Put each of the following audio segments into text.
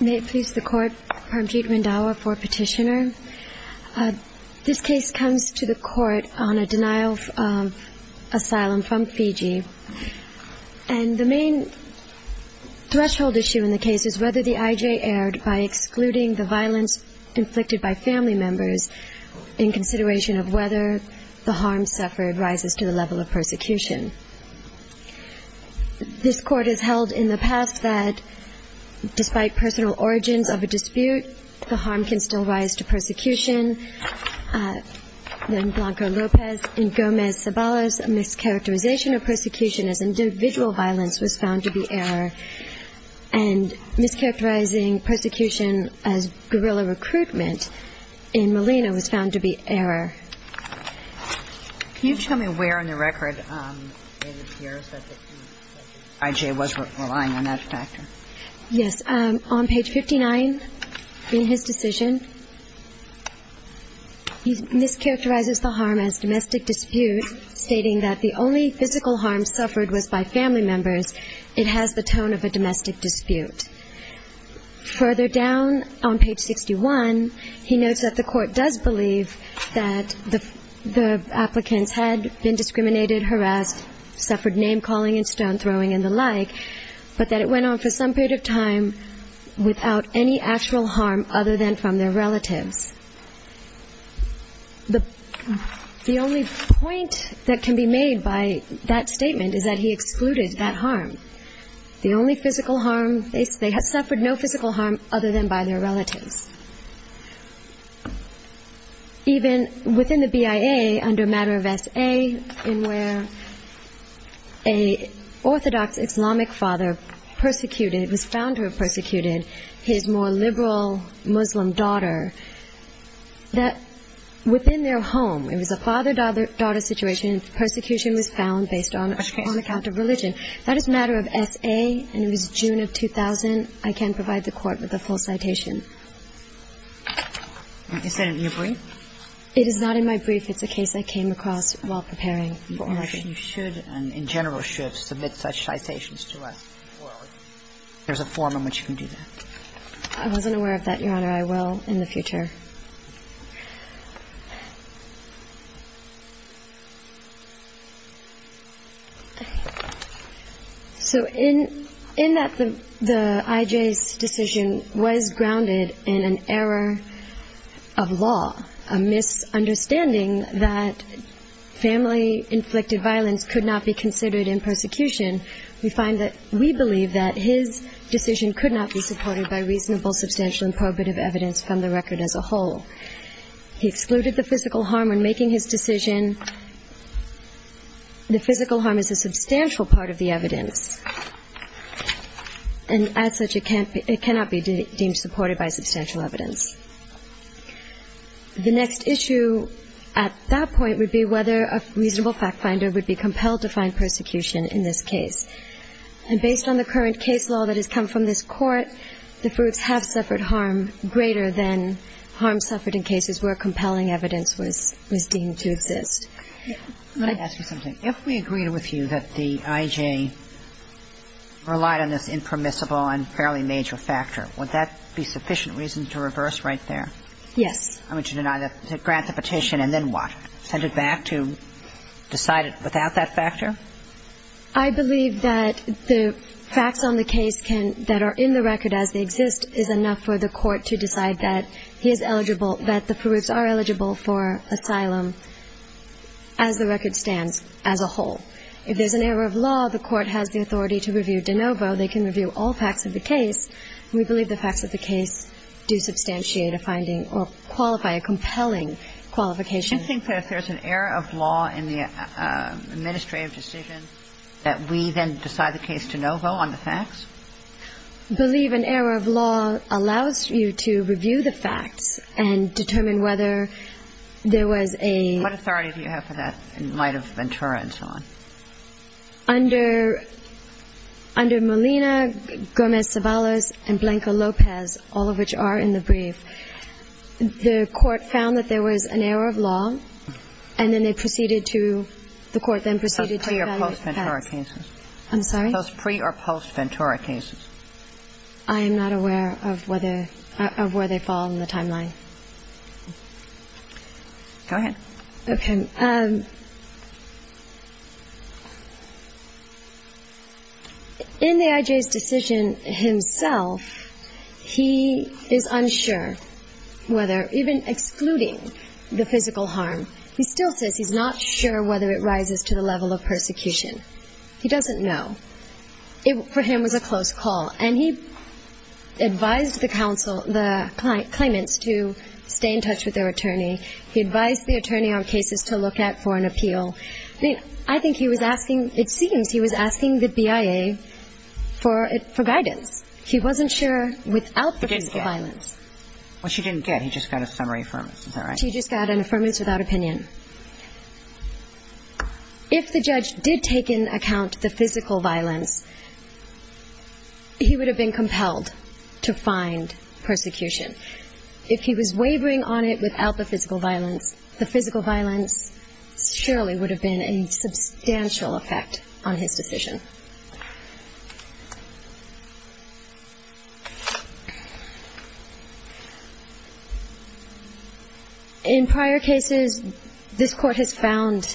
May it please the Court, Parmjeet Randhawa for Petitioner. This case comes to the Court on a denial of asylum from Fiji. And the main threshold issue in the case is whether the IJ erred by excluding the violence inflicted by family members in consideration of whether the harm suffered rises to the level of persecution. This Court has held in the past that despite personal origins of a dispute, the harm can still rise to persecution. Then Blanco-Lopez in Gomez-Zabalas, a mischaracterization of persecution as individual violence was found to be error. And mischaracterizing persecution as guerrilla recruitment in Molina was found to be error. Can you tell me where in the record it appears that the IJ was relying on that factor? Yes. On page 59, in his decision, he mischaracterizes the harm as domestic dispute, stating that the only physical harm suffered was by family members. It has the tone of a domestic dispute. Further down on page 61, he notes that the Court does believe that the applicants had been discriminated, harassed, suffered name-calling and stone-throwing and the like, but that it went on for some period of time without any actual harm other than from their relatives. The only point that can be made by that statement is that he excluded that harm. The only physical harm, they suffered no physical harm other than by their relatives. Even within the BIA, under matter of S.A., in where an orthodox Islamic father was found to have persecuted his more liberal Muslim daughter, within their home, it was a father-daughter situation, persecution was found based on account of religion. That is matter of S.A. And it was June of 2000. I can't provide the Court with a full citation. Is that in your brief? It is not in my brief. It's a case I came across while preparing for order. You should, and in general should, submit such citations to us. There's a form in which you can do that. I wasn't aware of that, Your Honor. I will in the future. So in that the I.J.'s decision was grounded in an error of law, a misunderstanding that family-inflicted violence could not be considered in persecution, we find that we believe that his decision could not be supported by reasonable, substantial, and probative evidence from the record as a whole. He excluded the physical harm when making his decision. The physical harm is a substantial part of the evidence. And as such, it cannot be deemed supported by substantial evidence. The next issue at that point would be whether a reasonable fact-finder would be compelled to find persecution in this case. And based on the current case law that has come from this Court, the fruits have suffered harm greater than harm suffered in cases where compelling evidence was deemed to exist. Let me ask you something. If we agreed with you that the I.J. relied on this impermissible and fairly major factor, would that be sufficient reason to reverse right there? Yes. I mean, to deny that, to grant the petition, and then what? Send it back to decide it without that factor? I believe that the facts on the case can – that are in the record as they exist is enough for the Court to decide that he is eligible – that the perups are eligible for asylum as the record stands as a whole. If there's an error of law, the Court has the authority to review de novo. They can review all facts of the case. And we believe the facts of the case do substantiate a finding or qualify a compelling qualification. Do you think that if there's an error of law in the administrative decision that we then decide the case de novo on the facts? I believe an error of law allows you to review the facts and determine whether there was a – What authority do you have for that in light of Ventura and so on? Under – under Molina, Gomez-Ceballos, and Blanco-Lopez, all of which are in the record as a whole, and then they proceeded to – the Court then proceeded to evaluate the facts. Those pre- or post-Ventura cases? I'm sorry? Those pre- or post-Ventura cases? I am not aware of whether – of where they fall in the timeline. Go ahead. Okay. In the I.J.'s decision himself, he is unsure whether – even excluding the physical harm, he still says he's not sure whether it rises to the level of persecution. He doesn't know. It, for him, was a close call. And he advised the counsel – the claimants to stay in touch with their attorney. He advised the attorney on cases to look at for an appeal. I think he was asking – it seems he was asking the BIA for – for guidance. He wasn't sure without the physical violence. Which he didn't get. He just got a summary affirmance. Is that right? He just got an affirmance without opinion. If the judge did take into account the physical violence, he would have been compelled to find persecution. If he was wavering on it without the physical violence, the physical violence surely would have been a substantial effect on his decision. In prior cases, this Court has found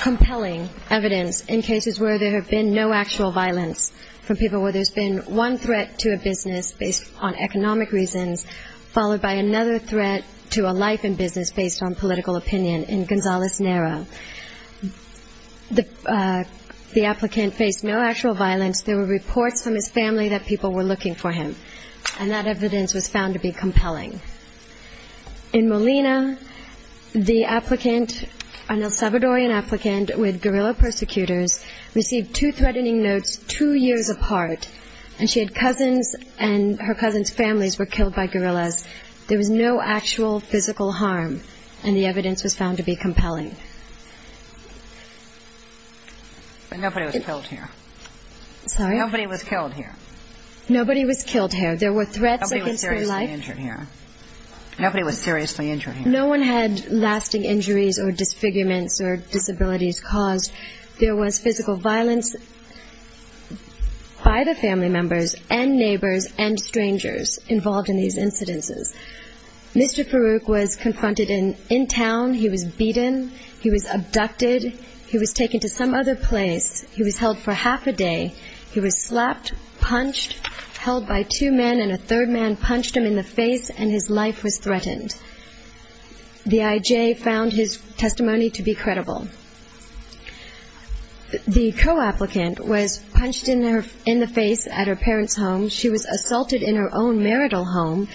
compelling evidence in cases where there have been no actual violence from people where there's been one threat to a business based on economic reasons, followed by another threat to a life and there were reports from his family that people were looking for him. And that evidence was found to be compelling. In Molina, the applicant, an El Salvadorian applicant with guerrilla persecutors, received two threatening notes two years apart. And she had cousins, and her cousins' families were killed by guerrillas. There was no actual physical harm. And the evidence was found to be compelling. But nobody was killed here. Sorry? Nobody was killed here. Nobody was killed here. There were threats against their life. Nobody was seriously injured here. Nobody was seriously injured here. No one had lasting injuries or disfigurements or disabilities caused. There was physical violence by the family members and neighbors and strangers involved in these incidences. Mr. Farouk was confronted in town. He was beaten. He was abducted. He was taken to some other place. He was held for half a day. He was slapped, punched, held by two men, and a third man punched him in the face, and his life was threatened. The IJ found his testimony to be credible. The co-applicant was punched in the face at her parents' home. She was assaulted in her own marital home.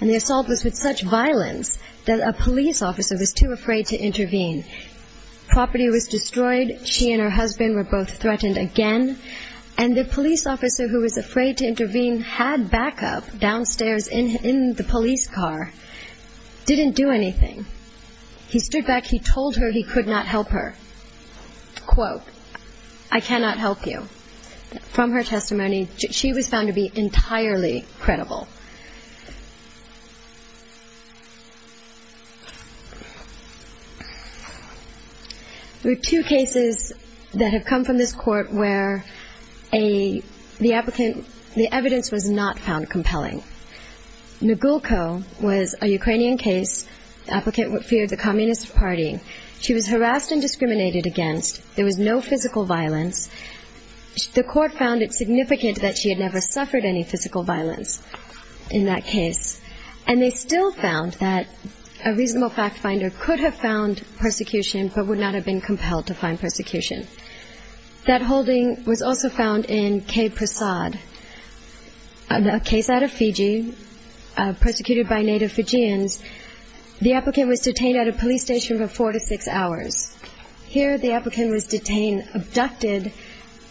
And the assault was with such violence that a police officer was too afraid to intervene. Property was destroyed. She and her husband were both threatened again. And the police officer who was afraid to intervene had backup downstairs in the police car, didn't do anything. He stood back. He told her he could not help her. Quote, I cannot help you. From her testimony, she was found to be entirely credible. There are two cases that have come from this court where the applicant, the evidence was not found compelling. Nugulko was a Ukrainian case. Applicant feared the Communist Party. She was harassed and discriminated against. There was no physical violence. The court found it could have found persecution, but would not have been compelled to find persecution. That holding was also found in Kay Prasad, a case out of Fiji, persecuted by native Fijians. The applicant was detained at a police station for four to six hours. Here the applicant was detained, abducted,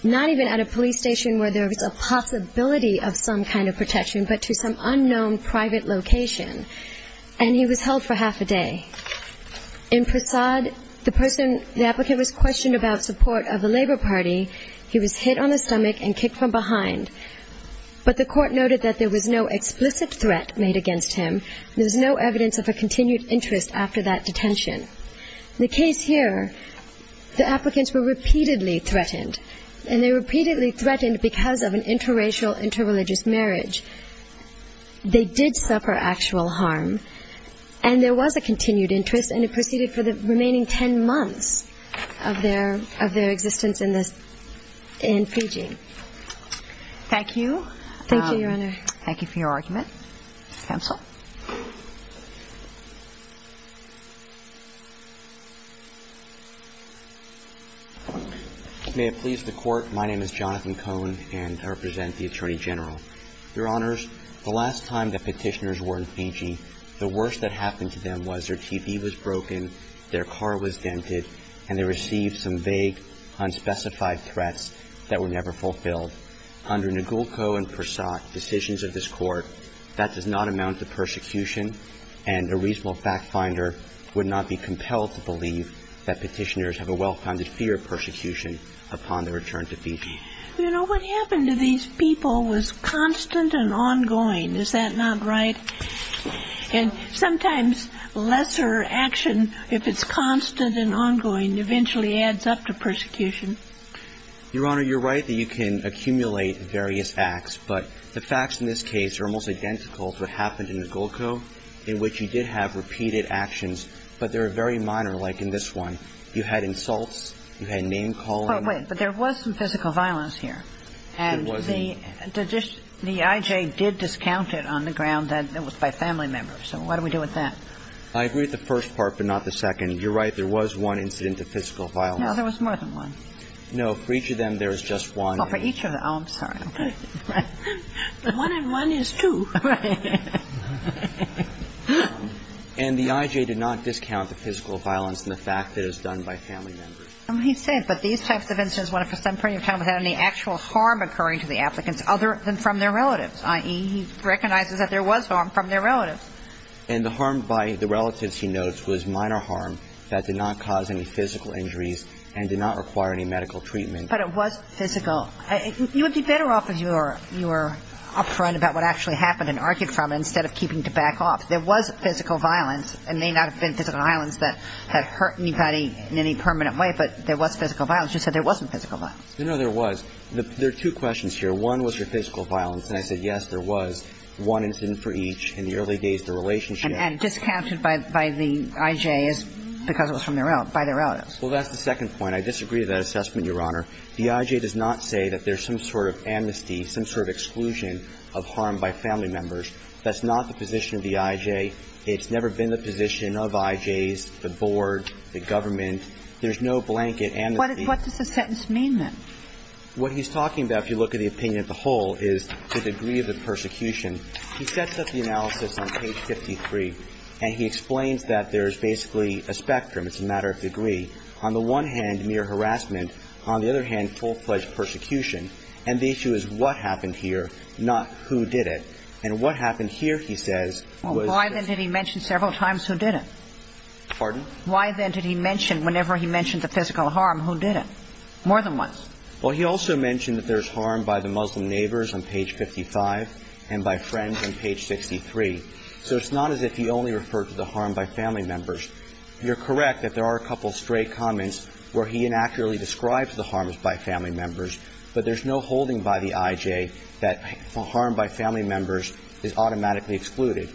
not even at a police station where there was a possibility of some kind of protection, but to some unknown private location. And he was held for half a day. In Prasad, the person, the applicant was questioned about support of the Labor Party. He was hit on the stomach and kicked from behind. But the court noted that there was no explicit threat made against him. There was no evidence of a continued interest after that detention. The case here, the applicants were repeatedly threatened. And they repeatedly threatened because of an interracial, interreligious marriage. They did suffer actual harm. And there was a continued interest, and it proceeded for the remaining ten months of their existence in Fiji. Thank you. May it please the court, my name is Jonathan Cohn, and I represent the Attorney General. Your Honors, the last time that petitioners were in Fiji, the worst that happened to them was their TV was broken, their car was dented, and they received some vague, unspecified threats that were never fulfilled. Under Negulco and Prasad, decisions of this court, that does not amount to persecution, and a reasonable fact finder would not be compelled to believe that petitioners have a well-founded fear of persecution upon their return to Fiji. You know, what happened to these people was constant and ongoing, is that not right? And sometimes lesser action, if it's constant and ongoing, eventually adds up to persecution. Your Honor, you're right that you can accumulate various acts, but the facts in this case are almost identical to what happened in Negulco, in which you did have repeated actions, but they were very minor, like in this one. You had insults, you had name-calling. But wait, but there was some physical violence here, and the I.J. did discount it on the ground that it was by family members, so what do we do with that? I agree with the first part, but not the second. You're right, there was one incident of physical violence. No, there was more than one. No, for each of them, there was just one. Oh, for each of them. Oh, I'm sorry. The one and one is two. Right. And the I.J. did not discount the physical violence in the fact that it was done by family members. He said, but these types of incidents went up to some point in time without any actual harm occurring to the applicants other than from their relatives, i.e., he recognizes that there was harm from their relatives. And the harm by the relatives, he notes, was minor harm that did not cause any physical injuries and did not require any medical treatment. But it was physical. You would be better off if you were upfront about what actually happened and argued from it instead of keeping to back off. There was physical violence. It may not have been physical violence that had hurt anybody in any permanent way, but there was physical violence. You said there wasn't physical violence. No, there was. There are two questions here. One was your physical violence. And I said, yes, there was one incident for each. In the early days, the relationship And discounted by the I.J. is because it was from their relatives, by their relatives. Well, that's the second point. I disagree with that assessment, Your Honor. The I.J. does not say that there's some sort of amnesty, some sort of exclusion of harm by family members. That's not the position of the I.J. It's never been the position of I.J.'s, the board, the government. There's no blanket amnesty. What does the sentence mean, then? What he's talking about, if you look at the opinion of the whole, is the degree of the persecution. He sets up the analysis on page 53, and he explains that there's basically a spectrum. It's a matter of degree. On the one hand, mere harassment. On the other hand, full-fledged persecution. And the issue is what happened here, not who did it. And what happened here, he says, was physical. Why, then, did he mention several times who did it? Pardon? Why, then, did he mention, whenever he mentioned the physical harm, who did it more than once? Well, he also mentioned that there's harm by the Muslim neighbors on page 55, and by friends on page 63. So it's not as if he only referred to the harm by family members. You're correct that there are a couple of stray comments where he inaccurately describes the harm by family members, but there's no holding by the I.J. that harm by family members is automatically excluded.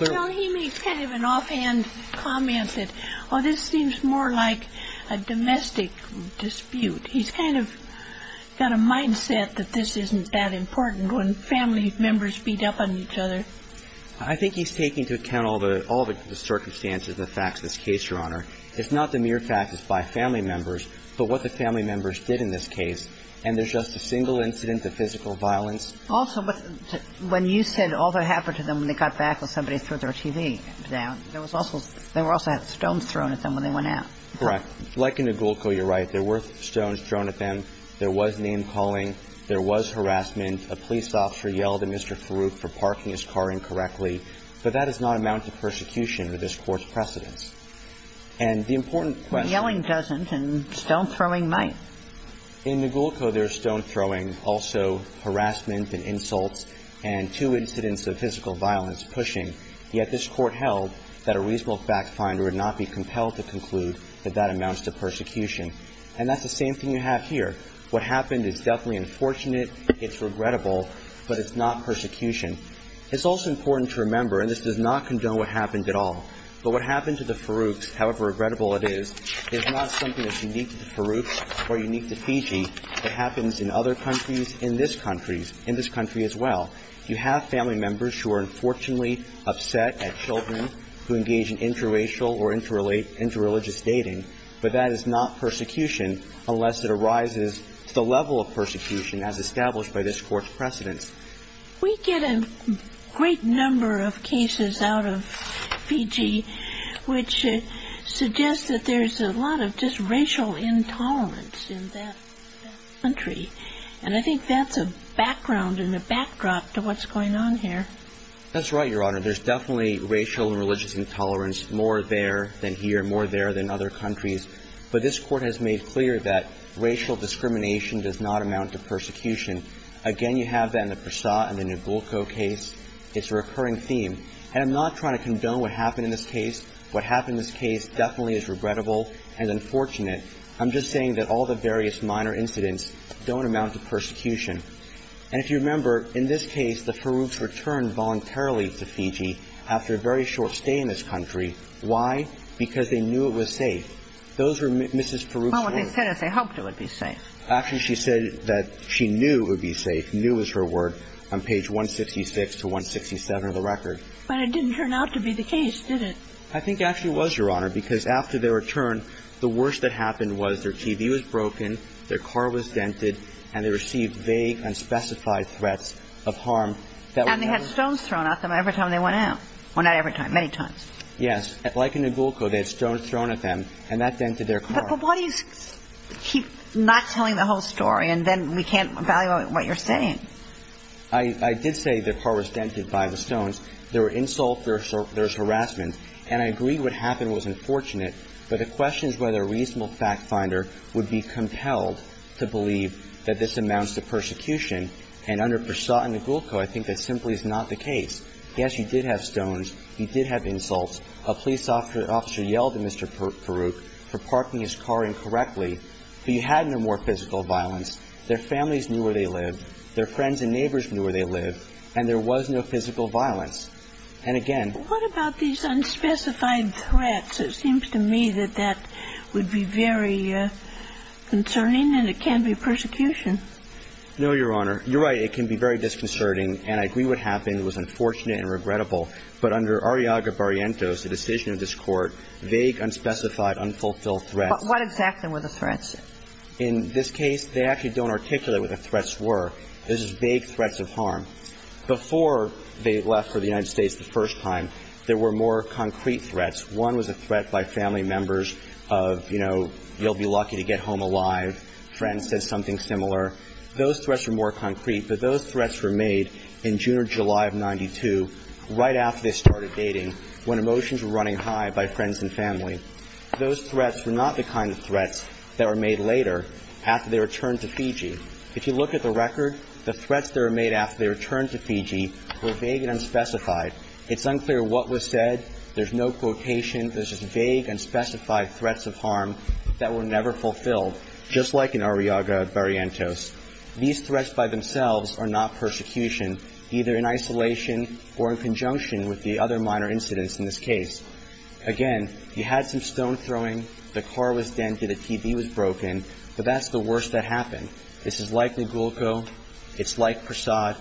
Well, he makes kind of an offhand comment that, oh, this seems more like a domestic dispute. He's kind of got a mindset that this isn't that important when family members beat up on each other. I think he's taking into account all the circumstances, the facts of this case, Your Honor. It's not the mere facts by family members, but what the family members did in this case. And there's just a single incident of physical violence. Also, when you said all that happened to them when they got back when somebody threw their TV down, there was also – they also had stones thrown at them when they went out. Correct. Like in Negulco, you're right. There were stones thrown at them. There was name-calling. There was harassment. A police officer yelled at Mr. Farouk for parking his car incorrectly. But that does not amount to persecution or this Court's precedence. And the important question – Yelling doesn't, and stone-throwing might. In Negulco, there's stone-throwing, also harassment and insults, and two incidents of physical violence, pushing. Yet this Court held that a reasonable fact-finder would not be compelled to conclude that that amounts to persecution. And that's the same thing you have here. What happened is definitely unfortunate, it's regrettable, but it's not persecution. It's also important to remember, and this does not condone what happened at all, but what happened to the Farouks, however regrettable it is, is not something that's unique to the Farouks or unique to Fiji. It happens in other countries, in this country, in this country as well. You have family members who are unfortunately upset at children who engage in interracial or interreligious dating, but that is not persecution unless it arises to the level of persecution as established by this Court's precedence. We get a great number of cases out of Fiji which suggest that there's a lot of racial intolerance in that country. And I think that's a background and a backdrop to what's going on here. That's right, Your Honor. There's definitely racial and religious intolerance more there than here, more there than other countries. But this Court has made clear that racial discrimination does not amount to persecution. Again, you have that in the Prasad and the Ngulco case. It's a recurring theme. And I'm not trying to condone what happened in this case. What happened in this case definitely is regrettable and unfortunate. I'm just saying that all the various minor incidents don't amount to persecution. And if you remember, in this case, the Farouks returned voluntarily to Fiji after a very short stay in this country. Why? Because they knew it was safe. Those were Mrs. Farouk's words. Well, they said it. They hoped it would be safe. Actually, she said that she knew it would be safe, knew was her word, on page 166 to 167 of the record. But it didn't turn out to be the case, did it? I think it actually was, Your Honor, because after their return, the worst that happened was their TV was broken, their car was dented, and they received vague unspecified threats of harm. And they had stones thrown at them every time they went out. Well, not every time, many times. Yes. Like in the Ngulco, they had stones thrown at them, and that dented their car. But why do you keep not telling the whole story, and then we can't value what you're saying? I did say their car was dented by the stones. There were insults, there was harassment. And I agree what happened was unfortunate, but the question is whether a reasonable fact finder would be compelled to believe that this amounts to persecution. And under Persaud and Ngulco, I think that simply is not the case. Yes, you did have stones. You did have insults. A police officer yelled at Mr. Farouk for parking his car incorrectly. But you had no more physical violence. Their families knew where they lived. Their friends and neighbors knew where they lived. And there was no physical violence. And again What about these unspecified threats? It seems to me that that would be very concerning, and it can be persecution. No, Your Honor. You're right. It can be very disconcerting, and I agree what happened was unfortunate and regrettable. But under Arriaga-Barrientos, the decision of this Court, vague, unspecified, unfulfilled threats. But what exactly were the threats? In this case, they actually don't articulate what the threats were. This is vague threats of harm. Before they left for the United States the first time, there were more concrete threats. One was a threat by family members of, you know, you'll be lucky to get home alive. Friends said something similar. Those threats were more concrete, but those threats were made in June or July of 1992, right after they started dating, when emotions were running high by friends and family. Those threats were not the kind of threats that were made later, after they returned to Fiji. If you look at the record, the threats that were made after they returned to Fiji were vague and unspecified. It's unclear what was said. There's no quotation. There's just vague, unspecified threats of harm that were never fulfilled, just like in Arriaga-Barrientos. These threats by themselves are not persecution, either in isolation or in conjunction with the other minor incidents in this case. Again, you had some stone throwing, the car was dented, the TV was broken, but that's the worst that happened. This is like Lugulco. It's like Prasad.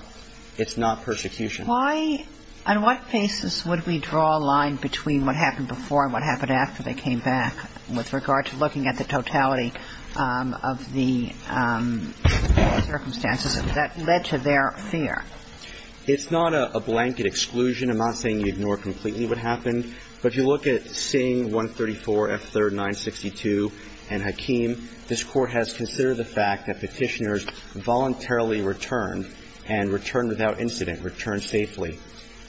It's not persecution. Why, on what basis would we draw a line between what happened before and what happened after they came back, with regard to looking at the totality of the circumstances that led to their fear? It's not a blanket exclusion. I'm not saying you ignore completely what happened. But if you look at Singh, 134, F3rd, 962, and Hakeem, this Court has considered the fact that Petitioners voluntarily returned and returned without incident, returned safely.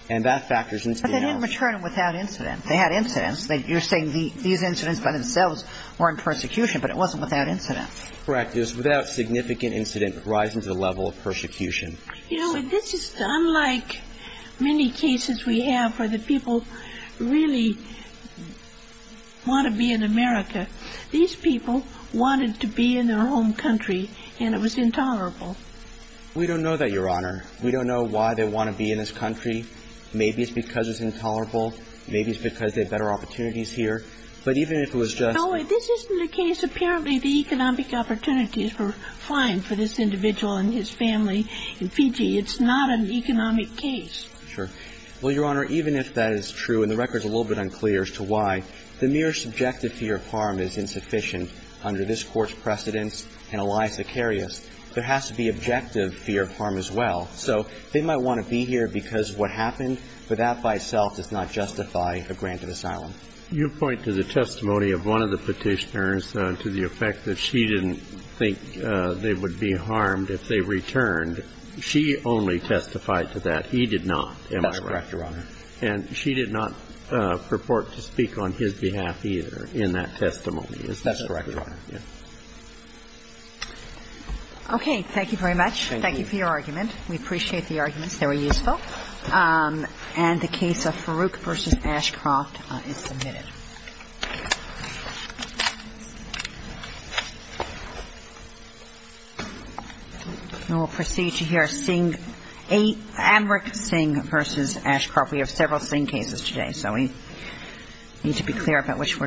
And that factors into the analysis. But they didn't return without incident. They had incidents. You're saying these incidents by themselves weren't persecution, but it wasn't without incident. Correct. It was without significant incident rising to the level of persecution. You know, this is unlike many cases we have where the people really want to be in America. These people wanted to be in their home country, and it was intolerable. We don't know that, Your Honor. We don't know why they want to be in this country. Maybe it's because it's intolerable. Maybe it's because they have better opportunities here. But even if it was just the ---- No, this isn't the case. Apparently, the economic opportunities were fine for this individual and his family in Fiji. It's not an economic case. Sure. Well, Your Honor, even if that is true, and the record is a little bit unclear as to why, the mere subjective fear of harm is insufficient under this Court's precedents and Elias Acarius. There has to be objective fear of harm as well. So they might want to be here because of what happened, but that by itself does not justify a grant of asylum. You point to the testimony of one of the Petitioners to the effect that she didn't think they would be harmed if they returned. She only testified to that. He did not, am I right? That's correct, Your Honor. And she did not purport to speak on his behalf either in that testimony. Is that correct, Your Honor? Yes. Okay. Thank you very much. Thank you for your argument. We appreciate the arguments. They were useful. And the case of Farooq v. Ashcroft is submitted. And we'll proceed to hear Amrik Singh v. Ashcroft. We have several Singh cases today, so we need to be clear about which we're doing.